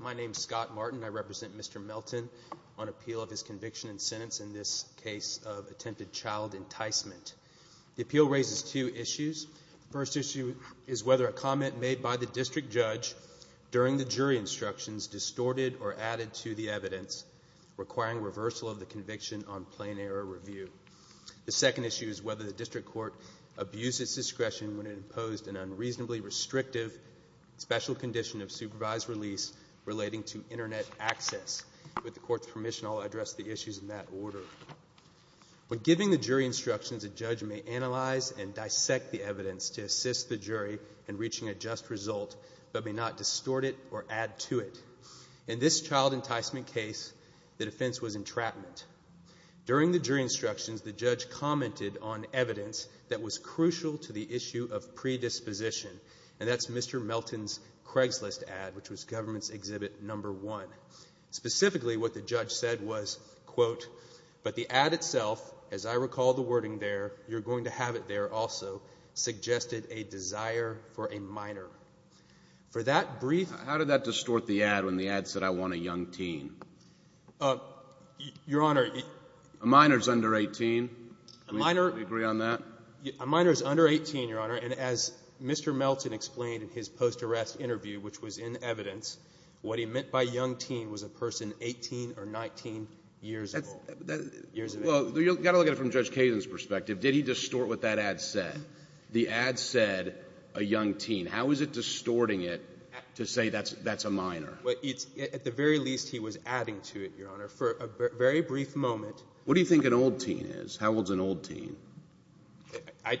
My name is Scott Martin. I represent Mr. Melton on appeal of his conviction and sentence in this case of attempted child enticement. The appeal raises two issues. The first issue is whether a comment made by the district judge during the jury instructions distorted or added to the evidence requiring reversal of the conviction on plain error review. The second issue is whether the district court abused its discretion when it imposed an unreasonably restrictive special condition of supervised release relating to internet access. With the court's permission, I'll address the issues in that order. When giving the jury instructions, a judge may analyze and dissect the evidence to assist the jury in reaching a just result, but may not distort it or add to it. In this child enticement case, the defense was entrapment. During the jury instructions, the judge commented on evidence that was crucial to the issue of predisposition, and that's Mr. Melton's Craigslist ad, which was government's exhibit number one. Specifically, what the judge said was, quote, but the ad itself, as I recall the wording there, you're going to have it there also, suggested a desire for a minor. For that brief... Your Honor... A minor is under 18. A minor... Do you agree on that? A minor is under 18, Your Honor. And as Mr. Melton explained in his post-arrest interview, which was in evidence, what he meant by young teen was a person 18 or 19 years old. Years of age. Well, you've got to look at it from Judge Kagan's perspective. Did he distort what that ad said? The ad said a young teen. How is it distorting it to say that's a minor? Well, it's at the very least he was adding to it, Your Honor, for a very brief moment. What do you think an old teen is? How old's an old teen? I,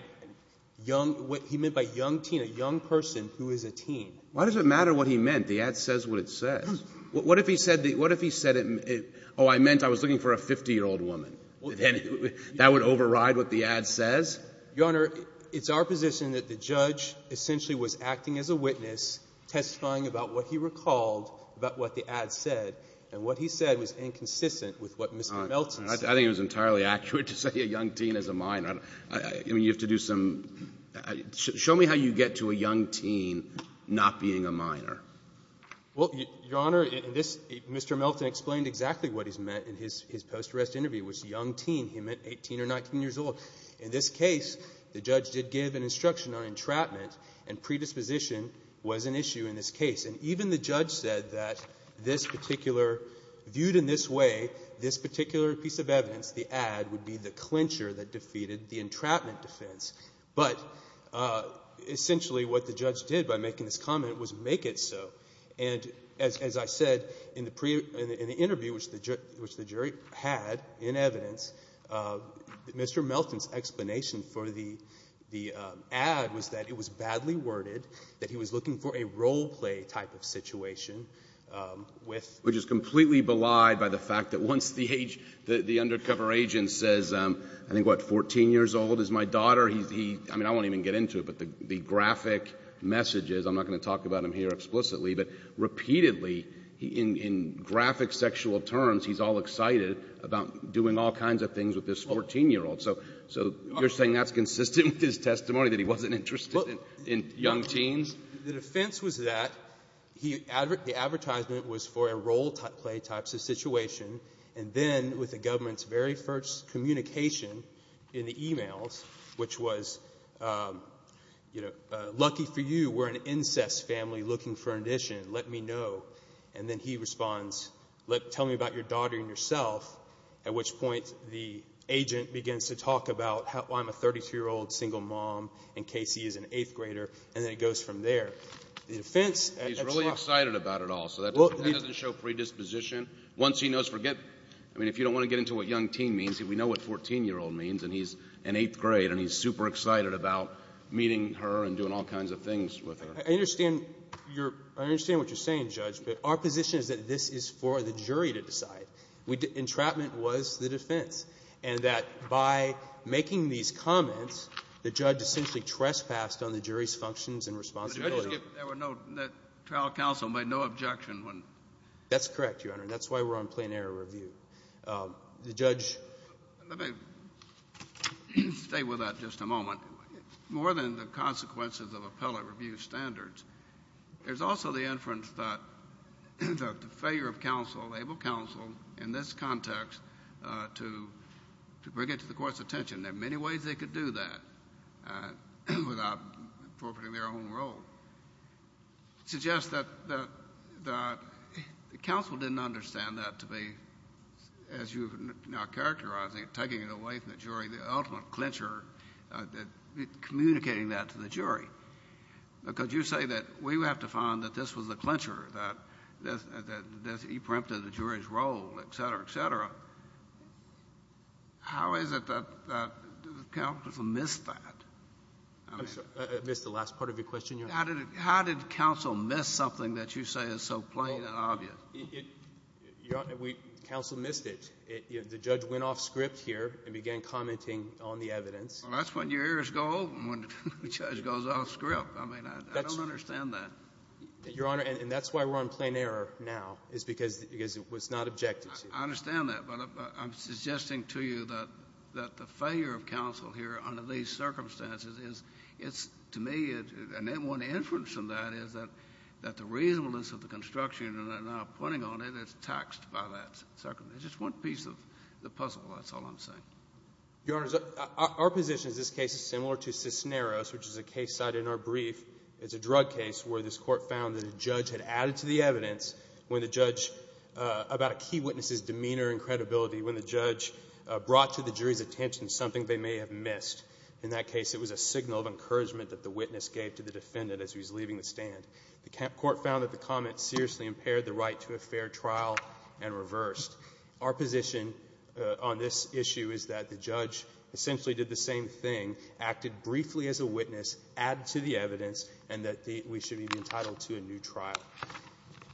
young, what he meant by young teen, a young person who is a teen. Why does it matter what he meant? The ad says what it says. What if he said, what if he said, oh, I meant I was looking for a 50-year-old woman? That would override what the ad says? Your Honor, it's our position that the judge essentially was acting as a witness, testifying about what he recalled about what the ad said, and what he said was inconsistent with what Mr. Melton said. I think it was entirely accurate to say a young teen is a minor. I mean, you have to do some — show me how you get to a young teen not being a minor. Well, Your Honor, in this, Mr. Melton explained exactly what he's meant in his post-arrest interview, which is a young teen. He meant 18 or 19 years old. In this case, the judge did give an instruction on entrapment, and predisposition was an issue in this case. And even the judge said that this particular — viewed in this way, this particular piece of evidence, the ad would be the clincher that defeated the entrapment defense. But essentially what the judge did by making this comment was make it so. And as I said in the interview, which the jury had in evidence, Mr. Melton's explanation for the ad was that it was badly worded, that he was not a minor, and that he was looking for a role-play type of situation with — Which is completely belied by the fact that once the age — the undercover agent says, I think, what, 14 years old is my daughter, he — I mean, I won't even get into it, but the graphic messages — I'm not going to talk about him here explicitly, but repeatedly, in graphic sexual terms, he's all excited about doing all kinds of things with this 14-year-old. So you're saying that's consistent with his testimony, that he wasn't interested in young teens? The defense was that he — the advertisement was for a role-play type of situation. And then, with the government's very first communication in the e-mails, which was, you know, lucky for you, we're an incest family looking for an addition, let me know. And then he responds, let — tell me about your daughter and yourself, at which point the agent begins to talk about how — why I'm a 32-year-old single mom, in case he is an eighth-grader, and then it goes from there. The defense — He's really excited about it all, so that doesn't show predisposition. Once he knows — forget — I mean, if you don't want to get into what young teen means, we know what 14-year-old means, and he's in eighth grade, and he's super excited about meeting her and doing all kinds of things with her. I understand your — I understand what you're saying, Judge, but our position is that this is for the jury to decide. Entrapment was the defense, and that by making these comments, the judge essentially trespassed on the jury's functions and responsibilities. But the judge — There were no — the trial counsel made no objection when — That's correct, Your Honor, and that's why we're on plain-error review. The judge — Let me stay with that just a moment. More than the consequences of appellate review standards, there's also the inference that the failure of counsel, able counsel, in this context, to bring it to the Court's attention. There are many ways they could do that without appropriating their own role. Suggests that the counsel didn't understand that to be, as you are now characterizing it, taking it away from the jury, the ultimate clincher, communicating that to the jury. Because you say that we would have to find that this was the clincher, that he preempted the jury's role, et cetera, et cetera. How is it that the counsel missed that? I'm sorry. I missed the last part of your question, Your Honor. How did it — how did counsel miss something that you say is so plain and obvious? It — it — Your Honor, we — counsel missed it. It — the judge went off-script here and began commenting on the evidence. Well, that's when your errors go open, when the judge goes off-script. I mean, I don't understand that. Your Honor, and that's why we're on plain-error now, is because it was not objective to you. I understand that, but I'm suggesting to you that — that the failure of counsel here under these circumstances is — it's — to me, it — and then one inference from that is that — that the reasonableness of the construction, and I'm now pointing on it, it's taxed by that circumstance. It's just one piece of the puzzle, that's all I'm saying. Your Honors, our position is this case is similar to Cisneros, which is a case cited in our brief. It's a drug case where this Court found that a judge had added to the evidence when the judge — about a key witness's demeanor and credibility, when the judge brought to the jury's attention something they may have missed. In that case, it was a signal of encouragement that the witness gave to the defendant as he was leaving the stand. The Court found that the comment seriously impaired the right to a fair trial and reversed. Our position on this issue is that the judge essentially did the same thing, acted briefly as a witness, added to the evidence, and that the — we should be entitled to a new trial.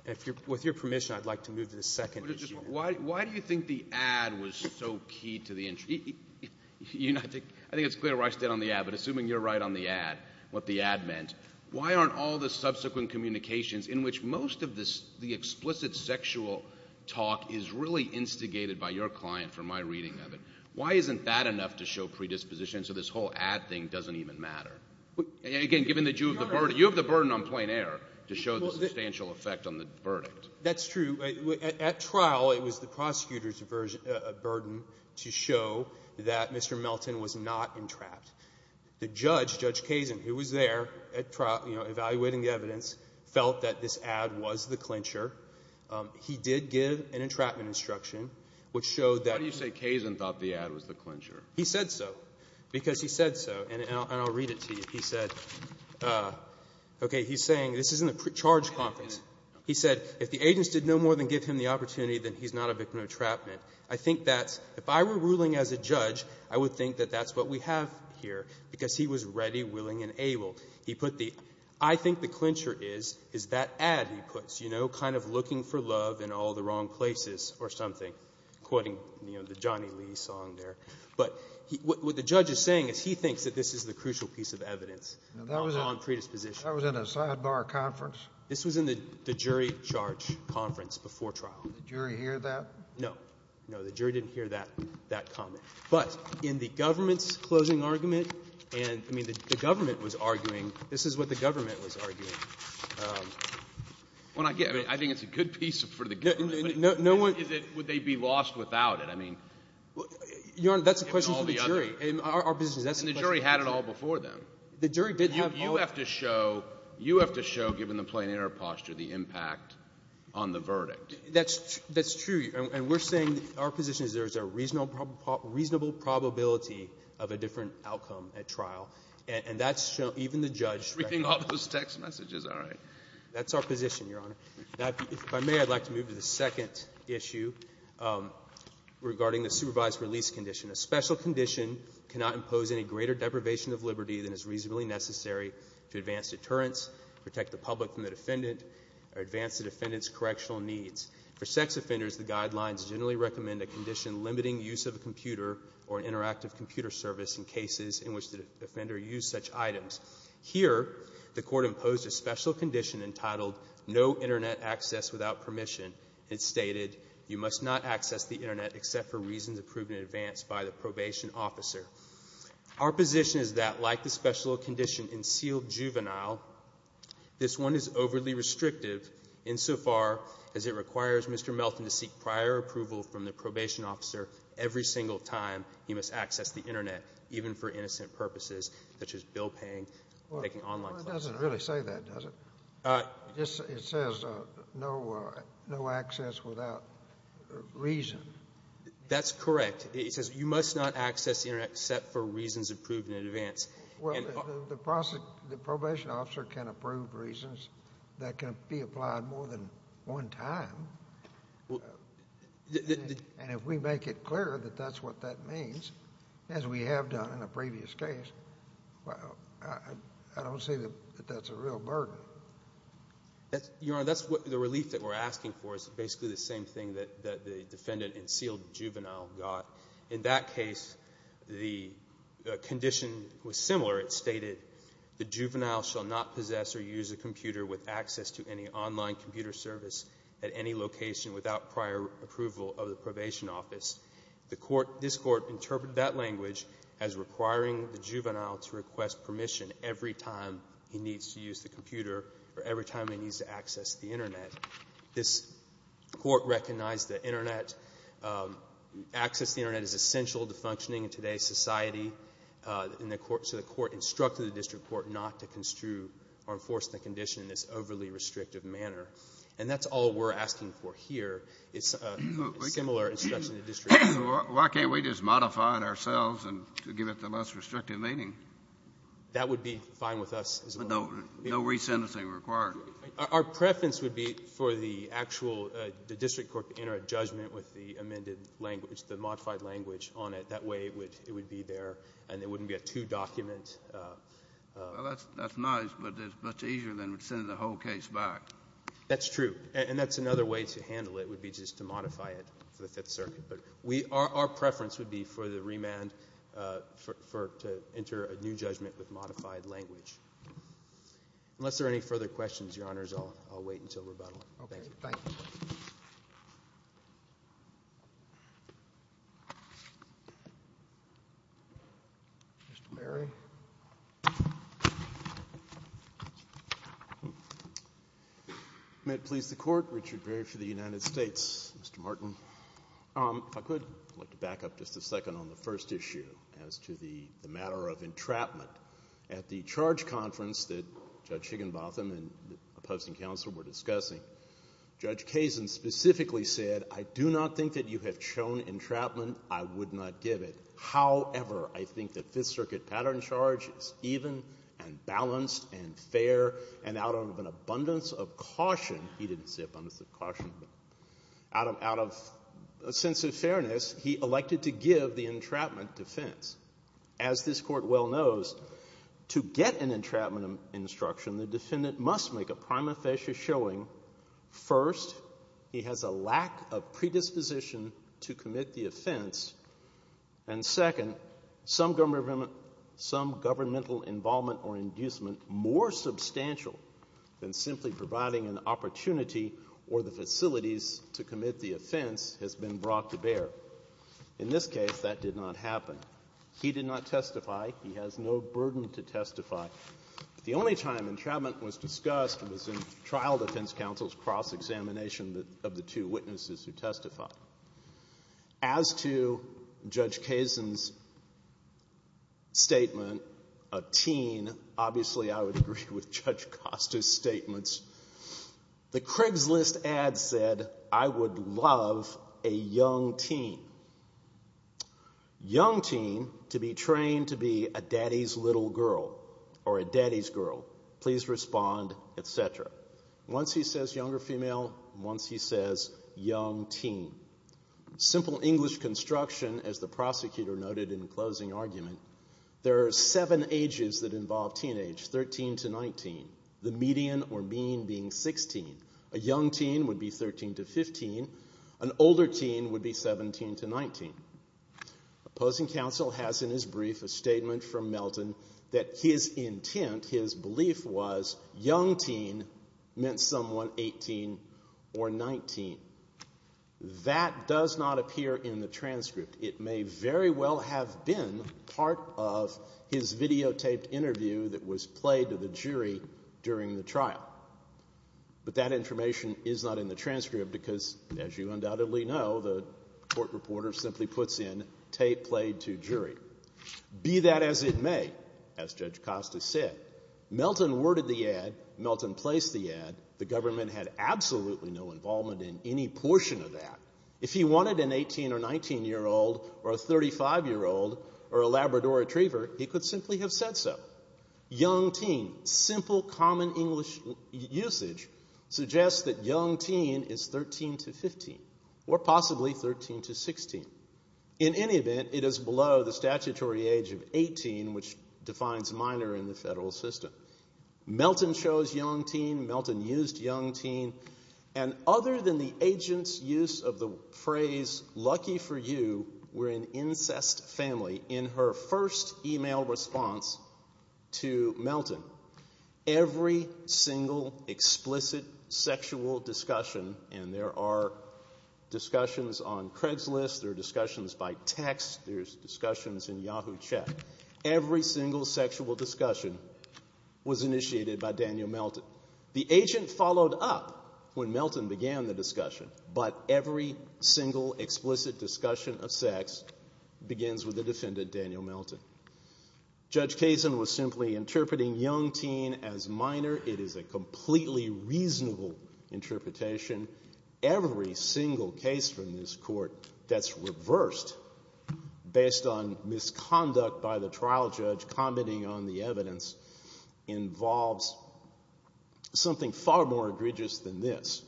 If you're — with your permission, I'd like to move to the second issue. Why do you think the ad was so key to the — I think it's clear why it's dead on the ad, but assuming you're right on the ad, what the ad meant, why aren't all the subsequent communications, in which most of the explicit sexual talk is really instigated by your client from my reading of it, why isn't that enough to show predisposition so this whole ad thing doesn't even matter? Again, given that you have the burden on plain air to show the substantial effect on the verdict. That's true. At trial, it was the prosecutor's burden to show that Mr. Melton was not entrapped. The judge, Judge Kazin, who was there at trial, you know, evaluating the evidence, felt that this ad was the clincher. He did give an entrapment instruction, which showed that — Why do you say Kazin thought the ad was the clincher? He said so, because he said so. And I'll read it to you. He said — okay. He's saying — this is in the charge conference. He said, if the agents did no more than give him the opportunity, then he's not a victim of entrapment. I think that's — if I were ruling as a judge, I would think that that's what we have here, because he was ready, willing, and able. He put the — I think the clincher is, is that ad he puts, you know, kind of looking for love in all the wrong places or something, quoting, you know, the Johnny Lee song there. But what the judge is saying is he thinks that this is the crucial piece of evidence on predisposition. That was in a sidebar conference? This was in the jury charge conference before trial. Did the jury hear that? No. No, the jury didn't hear that comment. But in the government's closing argument, and — I mean, the government was arguing — this is what the government was arguing. When I get — I mean, I think it's a good piece for the government, but no one — Is it — would they be lost without it? I mean — Your Honor, that's a question for the jury. And our position is that's a question for the jury. And the jury had it all before them. The jury didn't have all — You have to show — you have to show, given the plein air posture, the impact on the verdict. That's — that's true, and we're saying our position is there's a reasonable probability of a different outcome at trial, and that's — even the judge — You're reading all those text messages. All right. That's our position, Your Honor. Now, if I may, I'd like to move to the second issue regarding the supervised release condition. A special condition cannot impose any greater deprivation of liberty than is reasonably necessary to advance deterrence, protect the public from the defendant, or advance the defendant's correctional needs. For sex offenders, the guidelines generally recommend a condition limiting use of a computer or an interactive computer service in cases in which the offender used such items. Here, the Court imposed a special condition entitled no Internet access without permission. It stated you must not access the Internet except for reasons approved in advance by the probation officer. Our position is that, like the special condition in sealed juvenile, this one is overly restrictive insofar as it requires Mr. Melton to seek prior approval from the probation officer every single time he must access the Internet, even for innocent purposes such as bill-paying, making online calls. Well, it doesn't really say that, does it? It says no access without reason. That's correct. It says you must not access the Internet except for reasons approved in advance. Well, the probation officer can approve reasons that can be applied more than one time. And if we make it clear that that's what that means, as we have done in a previous case, well, I don't see that that's a real burden. Your Honor, that's what the relief that we're asking for is basically the same thing that the defendant in sealed juvenile got. In that case, the condition was similar. It stated the juvenile shall not possess or use a computer with access to any online computer service at any location without prior approval of the probation office. The court, this court, interpreted that language as requiring the juvenile to request permission every time he needs to use the computer or every time he needs to access the Internet. This court recognized that Internet, access to the Internet is essential to functioning in today's society, and the court, so the court instructed the district court not to construe or enforce the condition in this overly restrictive manner. And that's all we're asking for here. It's a similar instruction to district court. Why can't we just modify it ourselves and give it the less restrictive meaning? That would be fine with us as well. No re-sentencing required. Our preference would be for the actual district court to enter a judgment with the amended language, the modified language on it. That way it would be there and there wouldn't be a two-document. Well, that's nice, but it's much easier than sending the whole case back. That's true. And that's another way to handle it, would be just to modify it for the Fifth Circuit. But our preference would be for the remand to enter a new judgment with modified language. Unless there are any further questions, Your Honors, I'll wait until rebuttal. Thank you. Okay. Thank you. Mr. Berry? May it please the Court. Richard Berry for the United States. Mr. Martin. If I could, I'd like to back up just a second on the first issue as to the matter of entrapment. At the charge conference that Judge Higginbotham and the opposing counsel were discussing, Judge Kazin specifically said, I do not think that you have shown entrapment. I would not give it. However, I think that Fifth Circuit pattern charge is even and balanced and fair. And out of an abundance of caution, he didn't say abundance of caution, but out of a sense of fairness, he elected to give the entrapment defense. As this Court well knows, to get an entrapment instruction, the defendant must make a prima facie showing first he has a lack of predisposition to commit the offense and second, some governmental involvement or inducement more substantial than simply providing an opportunity or the facilities to commit the offense has been brought to bear. In this case, that did not happen. He did not testify. He has no burden to testify. The only time entrapment was discussed was in trial defense counsel's cross examination of the two witnesses who testified. As to Judge Kazin's statement, a teen, obviously I would agree with Judge Costa's statements, the Craigslist ad said, I would love a young teen. Young teen to be trained to be a daddy's little girl or a daddy's girl. Please respond, et cetera. Once he says younger female, once he says young teen. Simple English construction, as the prosecutor noted in closing argument, there are seven ages that involve teenage, 13 to 19. The median or mean being 16. A young teen would be 13 to 15. An older teen would be 17 to 19. Opposing counsel has in his brief a statement from Melton that his intent, his belief was young teen meant someone 18 or 19. That does not appear in the transcript. It may very well have been part of his videotaped interview that was played to the jury during the trial. But that information is not in the transcript because, as you undoubtedly know, the court reporter simply puts in tape played to jury. Be that as it may, as Judge Costa said, Melton worded the ad, Melton placed the ad. The government had absolutely no involvement in any portion of that. If he wanted an 18 or 19-year-old or a 35-year-old or a Labrador retriever, he could simply have said so. Young teen, simple common English usage suggests that young teen is 13 to 15 or possibly 13 to 16. In any event, it is below the statutory age of 18, which defines minor in the federal system. Melton chose young teen. Melton used young teen. And other than the agent's use of the phrase, lucky for you, we're an incest family, in her first email response to Melton, every single explicit sexual discussion, and there are discussions on Craigslist, there are discussions by text, there's discussions in Yahoo Check, every single sexual discussion was initiated by Daniel Melton. The agent followed up when Melton began the discussion, but every single explicit discussion of sex begins with the defendant, Daniel Melton. Judge Kazin was simply interpreting young teen as minor. It is a completely reasonable interpretation. Every single case from this Court that's reversed based on misconduct by the trial judge commenting on the evidence involves something far more egregious than this.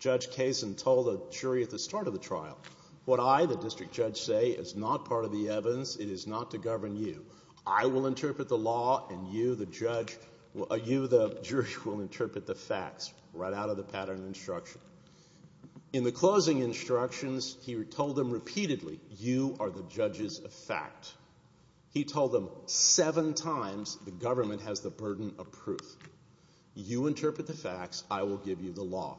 Judge Kazin told a jury at the start of the trial, what I, the district judge, say is not part of the evidence. It is not to govern you. I will interpret the law, and you, the jury, will interpret the facts, right out of the pattern of instruction. In the closing instructions, he told them repeatedly, you are the judges of fact. He told them seven times, the government has the burden of proof. You interpret the facts, I will give you the law.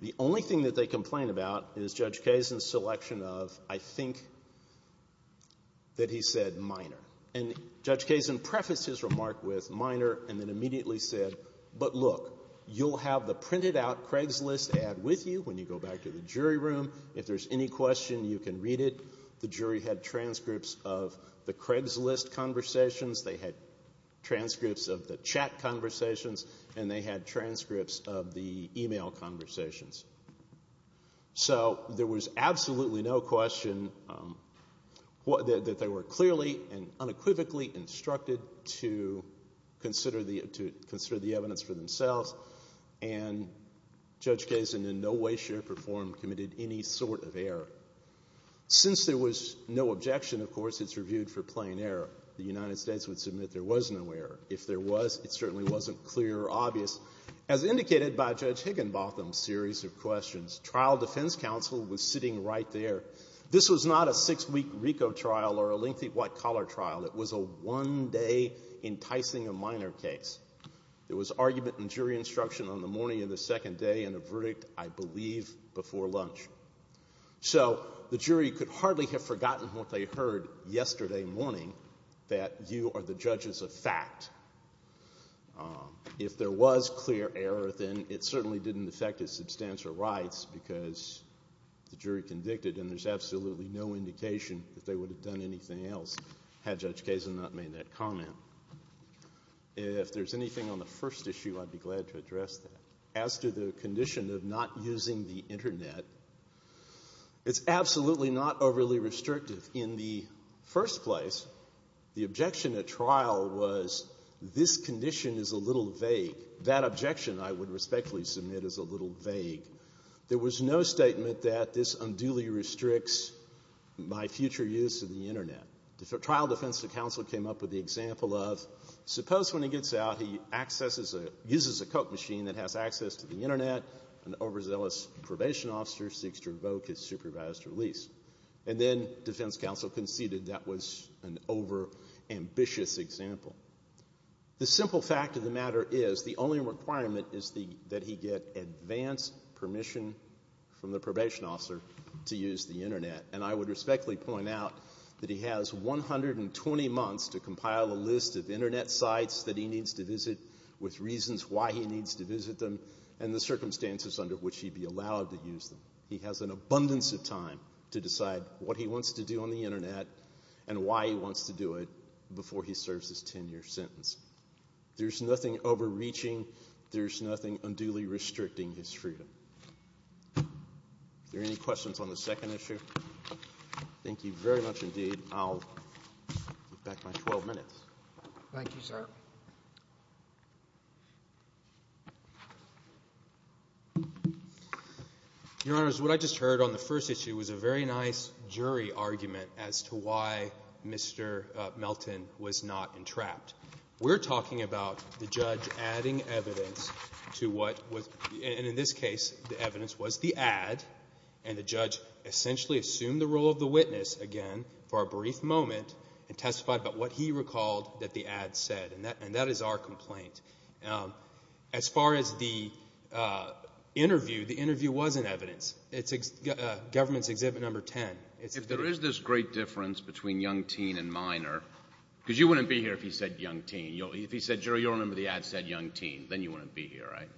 The only thing that they complain about is Judge Kazin's selection of, I think that he said minor. And Judge Kazin prefaced his remark with minor and then immediately said, but look, you'll have the printed out Craigslist ad with you when you go back to the jury room. If there's any question, you can read it. The jury had transcripts of the Craigslist conversations. They had transcripts of the chat conversations, and they had transcripts of the email conversations. So there was absolutely no question that they were clearly and unequivocally instructed to consider the evidence for themselves, and Judge Kazin in no way, shape, or form committed any sort of error. Since there was no objection, of course, it's reviewed for plain error. The United States would submit there was no error. As indicated by Judge Higginbotham's series of questions, trial defense counsel was sitting right there. This was not a six week RICO trial or a lengthy white collar trial. It was a one day enticing a minor case. There was argument and jury instruction on the morning of the second day and a verdict, I believe, before lunch. So the jury could hardly have forgotten what they heard yesterday morning, that you are the judges of fact. If there was clear error, then it certainly didn't affect his substantial rights, because the jury convicted and there's absolutely no indication that they would have done anything else had Judge Kazin not made that comment. If there's anything on the first issue, I'd be glad to address that. As to the condition of not using the Internet, it's absolutely not overly restrictive. In the first place, the objection at trial was this condition is a little vague. That objection, I would respectfully submit, is a little vague. There was no statement that this unduly restricts my future use of the Internet. The trial defense counsel came up with the example of, suppose when he gets out, he accesses a ‑‑ uses a Coke machine that has access to the Internet, an overzealous probation officer seeks to revoke his supervised release. And then defense counsel conceded that was an overambitious example. The simple fact of the matter is the only requirement is that he get advanced permission from the probation officer to use the Internet. And I would respectfully point out that he has 120 months to compile a list of Internet sites that he needs to visit with reasons why he needs to visit them and the circumstances under which he'd be allowed to use them. He has an abundance of time to decide what he wants to do on the Internet and why he wants to do it before he serves his 10‑year sentence. There's nothing overreaching. There's nothing unduly restricting his freedom. Are there any questions on the second issue? Thank you very much indeed. I'll get back to my 12 minutes. Thank you, sir. Your Honor, what I just heard on the first issue was a very nice jury argument as to why Mr. Melton was not entrapped. We're talking about the judge adding evidence to what was ‑‑ and in this case the evidence was the ad, and the judge essentially assumed the role of the witness again for a brief moment and testified about what he recalled that the ad said. And that is our complaint. As far as the interview, the interview wasn't evidence. It's Government's Exhibit No. 10. If there is this great difference between young teen and minor, because you wouldn't be here if he said young teen. If he said, Jury, you'll remember the ad said young teen, then you wouldn't be here, right?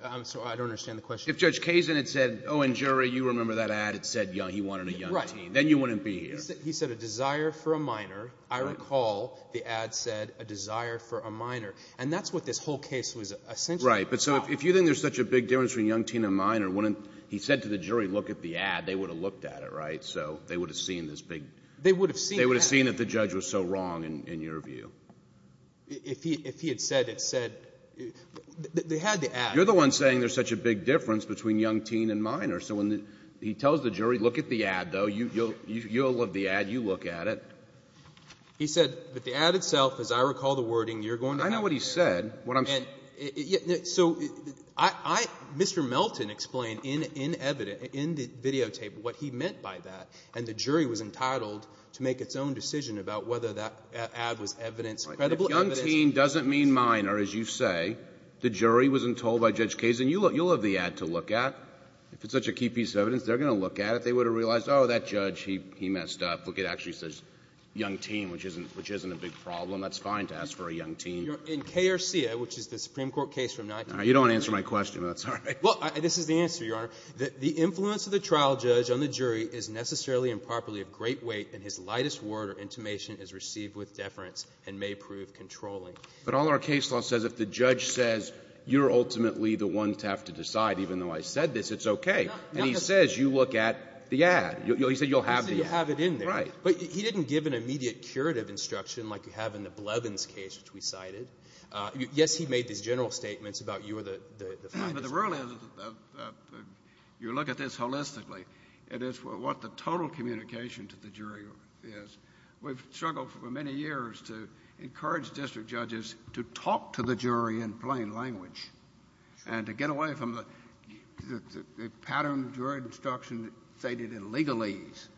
I'm sorry, I don't understand the question. If Judge Kazin had said, oh, and Jury, you remember that ad, it said he wanted a young teen, then you wouldn't be here. He said a desire for a minor. I recall the ad said a desire for a minor. And that's what this whole case was essentially about. Right. But so if you think there's such a big difference between young teen and minor, wouldn't ‑‑ he said to the jury, look at the ad, they would have looked at it, right? So they would have seen this big ‑‑ They would have seen that. They would have seen that the judge was so wrong in your view. If he had said it said ‑‑ they had the ad. You're the one saying there's such a big difference between young teen and minor. So when he tells the jury, look at the ad, though, you'll love the ad, you look at it. He said, but the ad itself, as I recall the wording, you're going to have to ‑‑ I know what he said. What I'm saying ‑‑ So I ‑‑ Mr. Melton explained in evidence, in the videotape, what he meant by that. And the jury was entitled to make its own decision about whether that ad was evidence, credible evidence. If young teen doesn't mean minor, as you say, the jury wasn't told by Judge Kazin, you'll have the ad to look at. If it's such a key piece of evidence, they're going to look at it. They would have realized, oh, that judge, he messed up. Look, it actually says young teen, which isn't a big problem. That's fine to ask for a young teen. In KRCA, which is the Supreme Court case from ‑‑ You don't answer my question. That's all right. This is the answer, Your Honor. The influence of the trial judge on the jury is necessarily and properly of great weight, and his lightest word or intimation is received with deference and may prove controlling. But all our case law says, if the judge says you're ultimately the one to have to decide, even though I said this, it's okay. And he says you look at the ad. He said you'll have the ad. He said you'll have it in there. Right. But he didn't give an immediate curative instruction like you have in the Blevins case, which we cited. Yes, he made these general statements about you are the ‑‑ But the rule is, you look at this holistically, it is what the total communication to the jury is. We've struggled for many years to encourage district judges to talk to the jury in plain language and to get away from the pattern of jury instruction stated in legalese.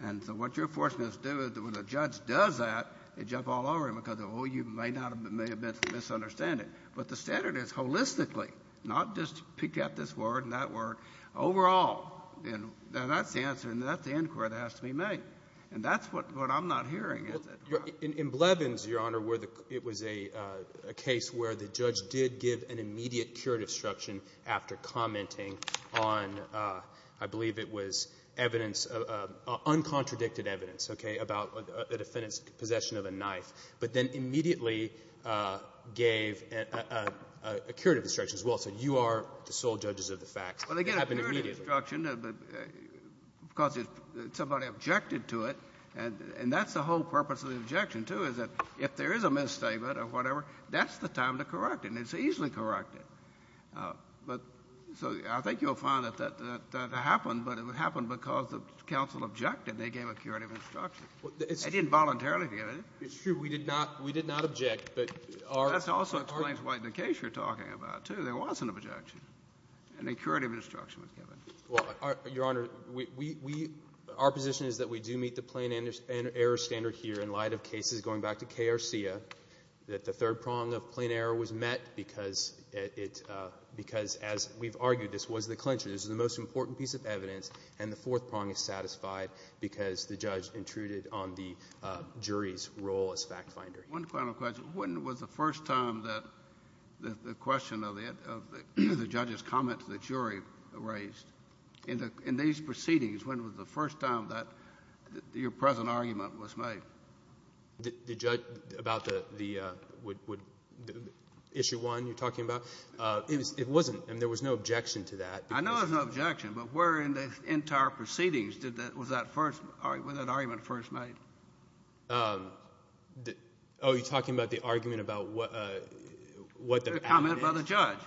And so what you're forcing us to do is when a judge does that, they jump all over him because, oh, you may not have ‑‑ may have misunderstood it. But the standard is holistically, not just pick out this word and that word. Overall, that's the answer, and that's the inquiry that has to be made. And that's what I'm not hearing. In Blevins, Your Honor, where the ‑‑ it was a case where the judge did give an immediate curative instruction after commenting on, I believe it was evidence, uncontradicted evidence, okay, about a defendant's possession of a knife, but then immediately gave a curative instruction as well, saying you are the sole judges of the facts. Well, they get a curative instruction because somebody objected to it, and that's the whole purpose of the objection, too, is that if there is a misstatement or whatever, that's the time to correct it, and it's easily corrected. But so I think you'll find that that happened, but it happened because the counsel objected. They gave a curative instruction. They didn't voluntarily give it. It's true. We did not ‑‑ we did not object, but our ‑‑ That also explains why in the case you're talking about, too, there wasn't an objection and a curative instruction was given. Well, Your Honor, we ‑‑ our position is that we do meet the plain error standard here in light of cases going back to K. Arcia, that the third prong of plain error was met because it ‑‑ because as we've argued, this was the clincher. This is the most important piece of evidence, and the fourth prong is satisfied because the judge intruded on the jury's role as fact finder. One final question. When was the first time that the question of the ‑‑ of the judge's comment to the jury raised? In these proceedings, when was the first time that your present argument was made? The judge about the ‑‑ the issue one you're talking about? It wasn't. I mean, there was no objection to that. I know there's no objection, but where in the entire proceedings did that ‑‑ was that first ‑‑ was that argument first made? Oh, you're talking about the argument about what the ‑‑ The comment by the judge.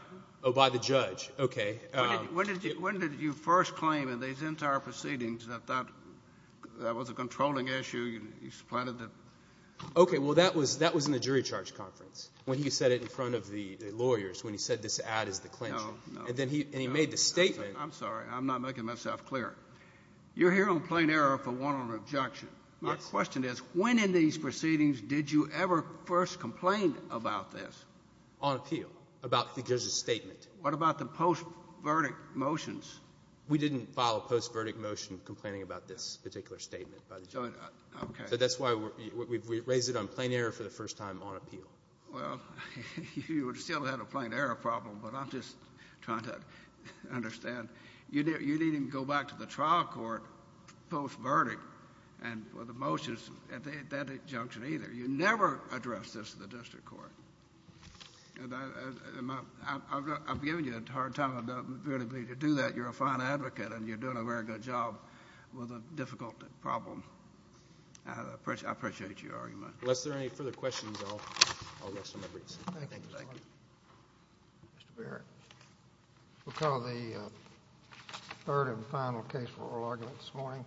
Oh, by the judge. Okay. When did you first claim in these entire proceedings that that was a controlling issue? You supplanted the ‑‑ Okay. Well, that was in the jury charge conference when he said it in front of the lawyers when he said this ad is the clincher. No, no. And then he made the statement. I'm sorry. I'm not making myself clear. You're here on plain error for one on objection. Yes. My question is, when in these proceedings did you ever first complain about this? On appeal. About the judge's statement. What about the post‑verdict motions? We didn't file a post‑verdict motion complaining about this particular statement by the judge. Okay. So that's why we raised it on plain error for the first time on appeal. Well, you would still have had a plain error problem, but I'm just trying to understand. You didn't even go back to the trial court post‑verdict and for the motions at that injunction either. You never addressed this to the district court. And I'm giving you a hard time. I don't really believe you do that. You're a fine advocate and you're doing a very good job with a difficult problem. I appreciate your argument. Unless there are any further questions, I'll let Senator Breese. Thank you. Mr. Barrett. We'll call the third and final case for oral argument this morning.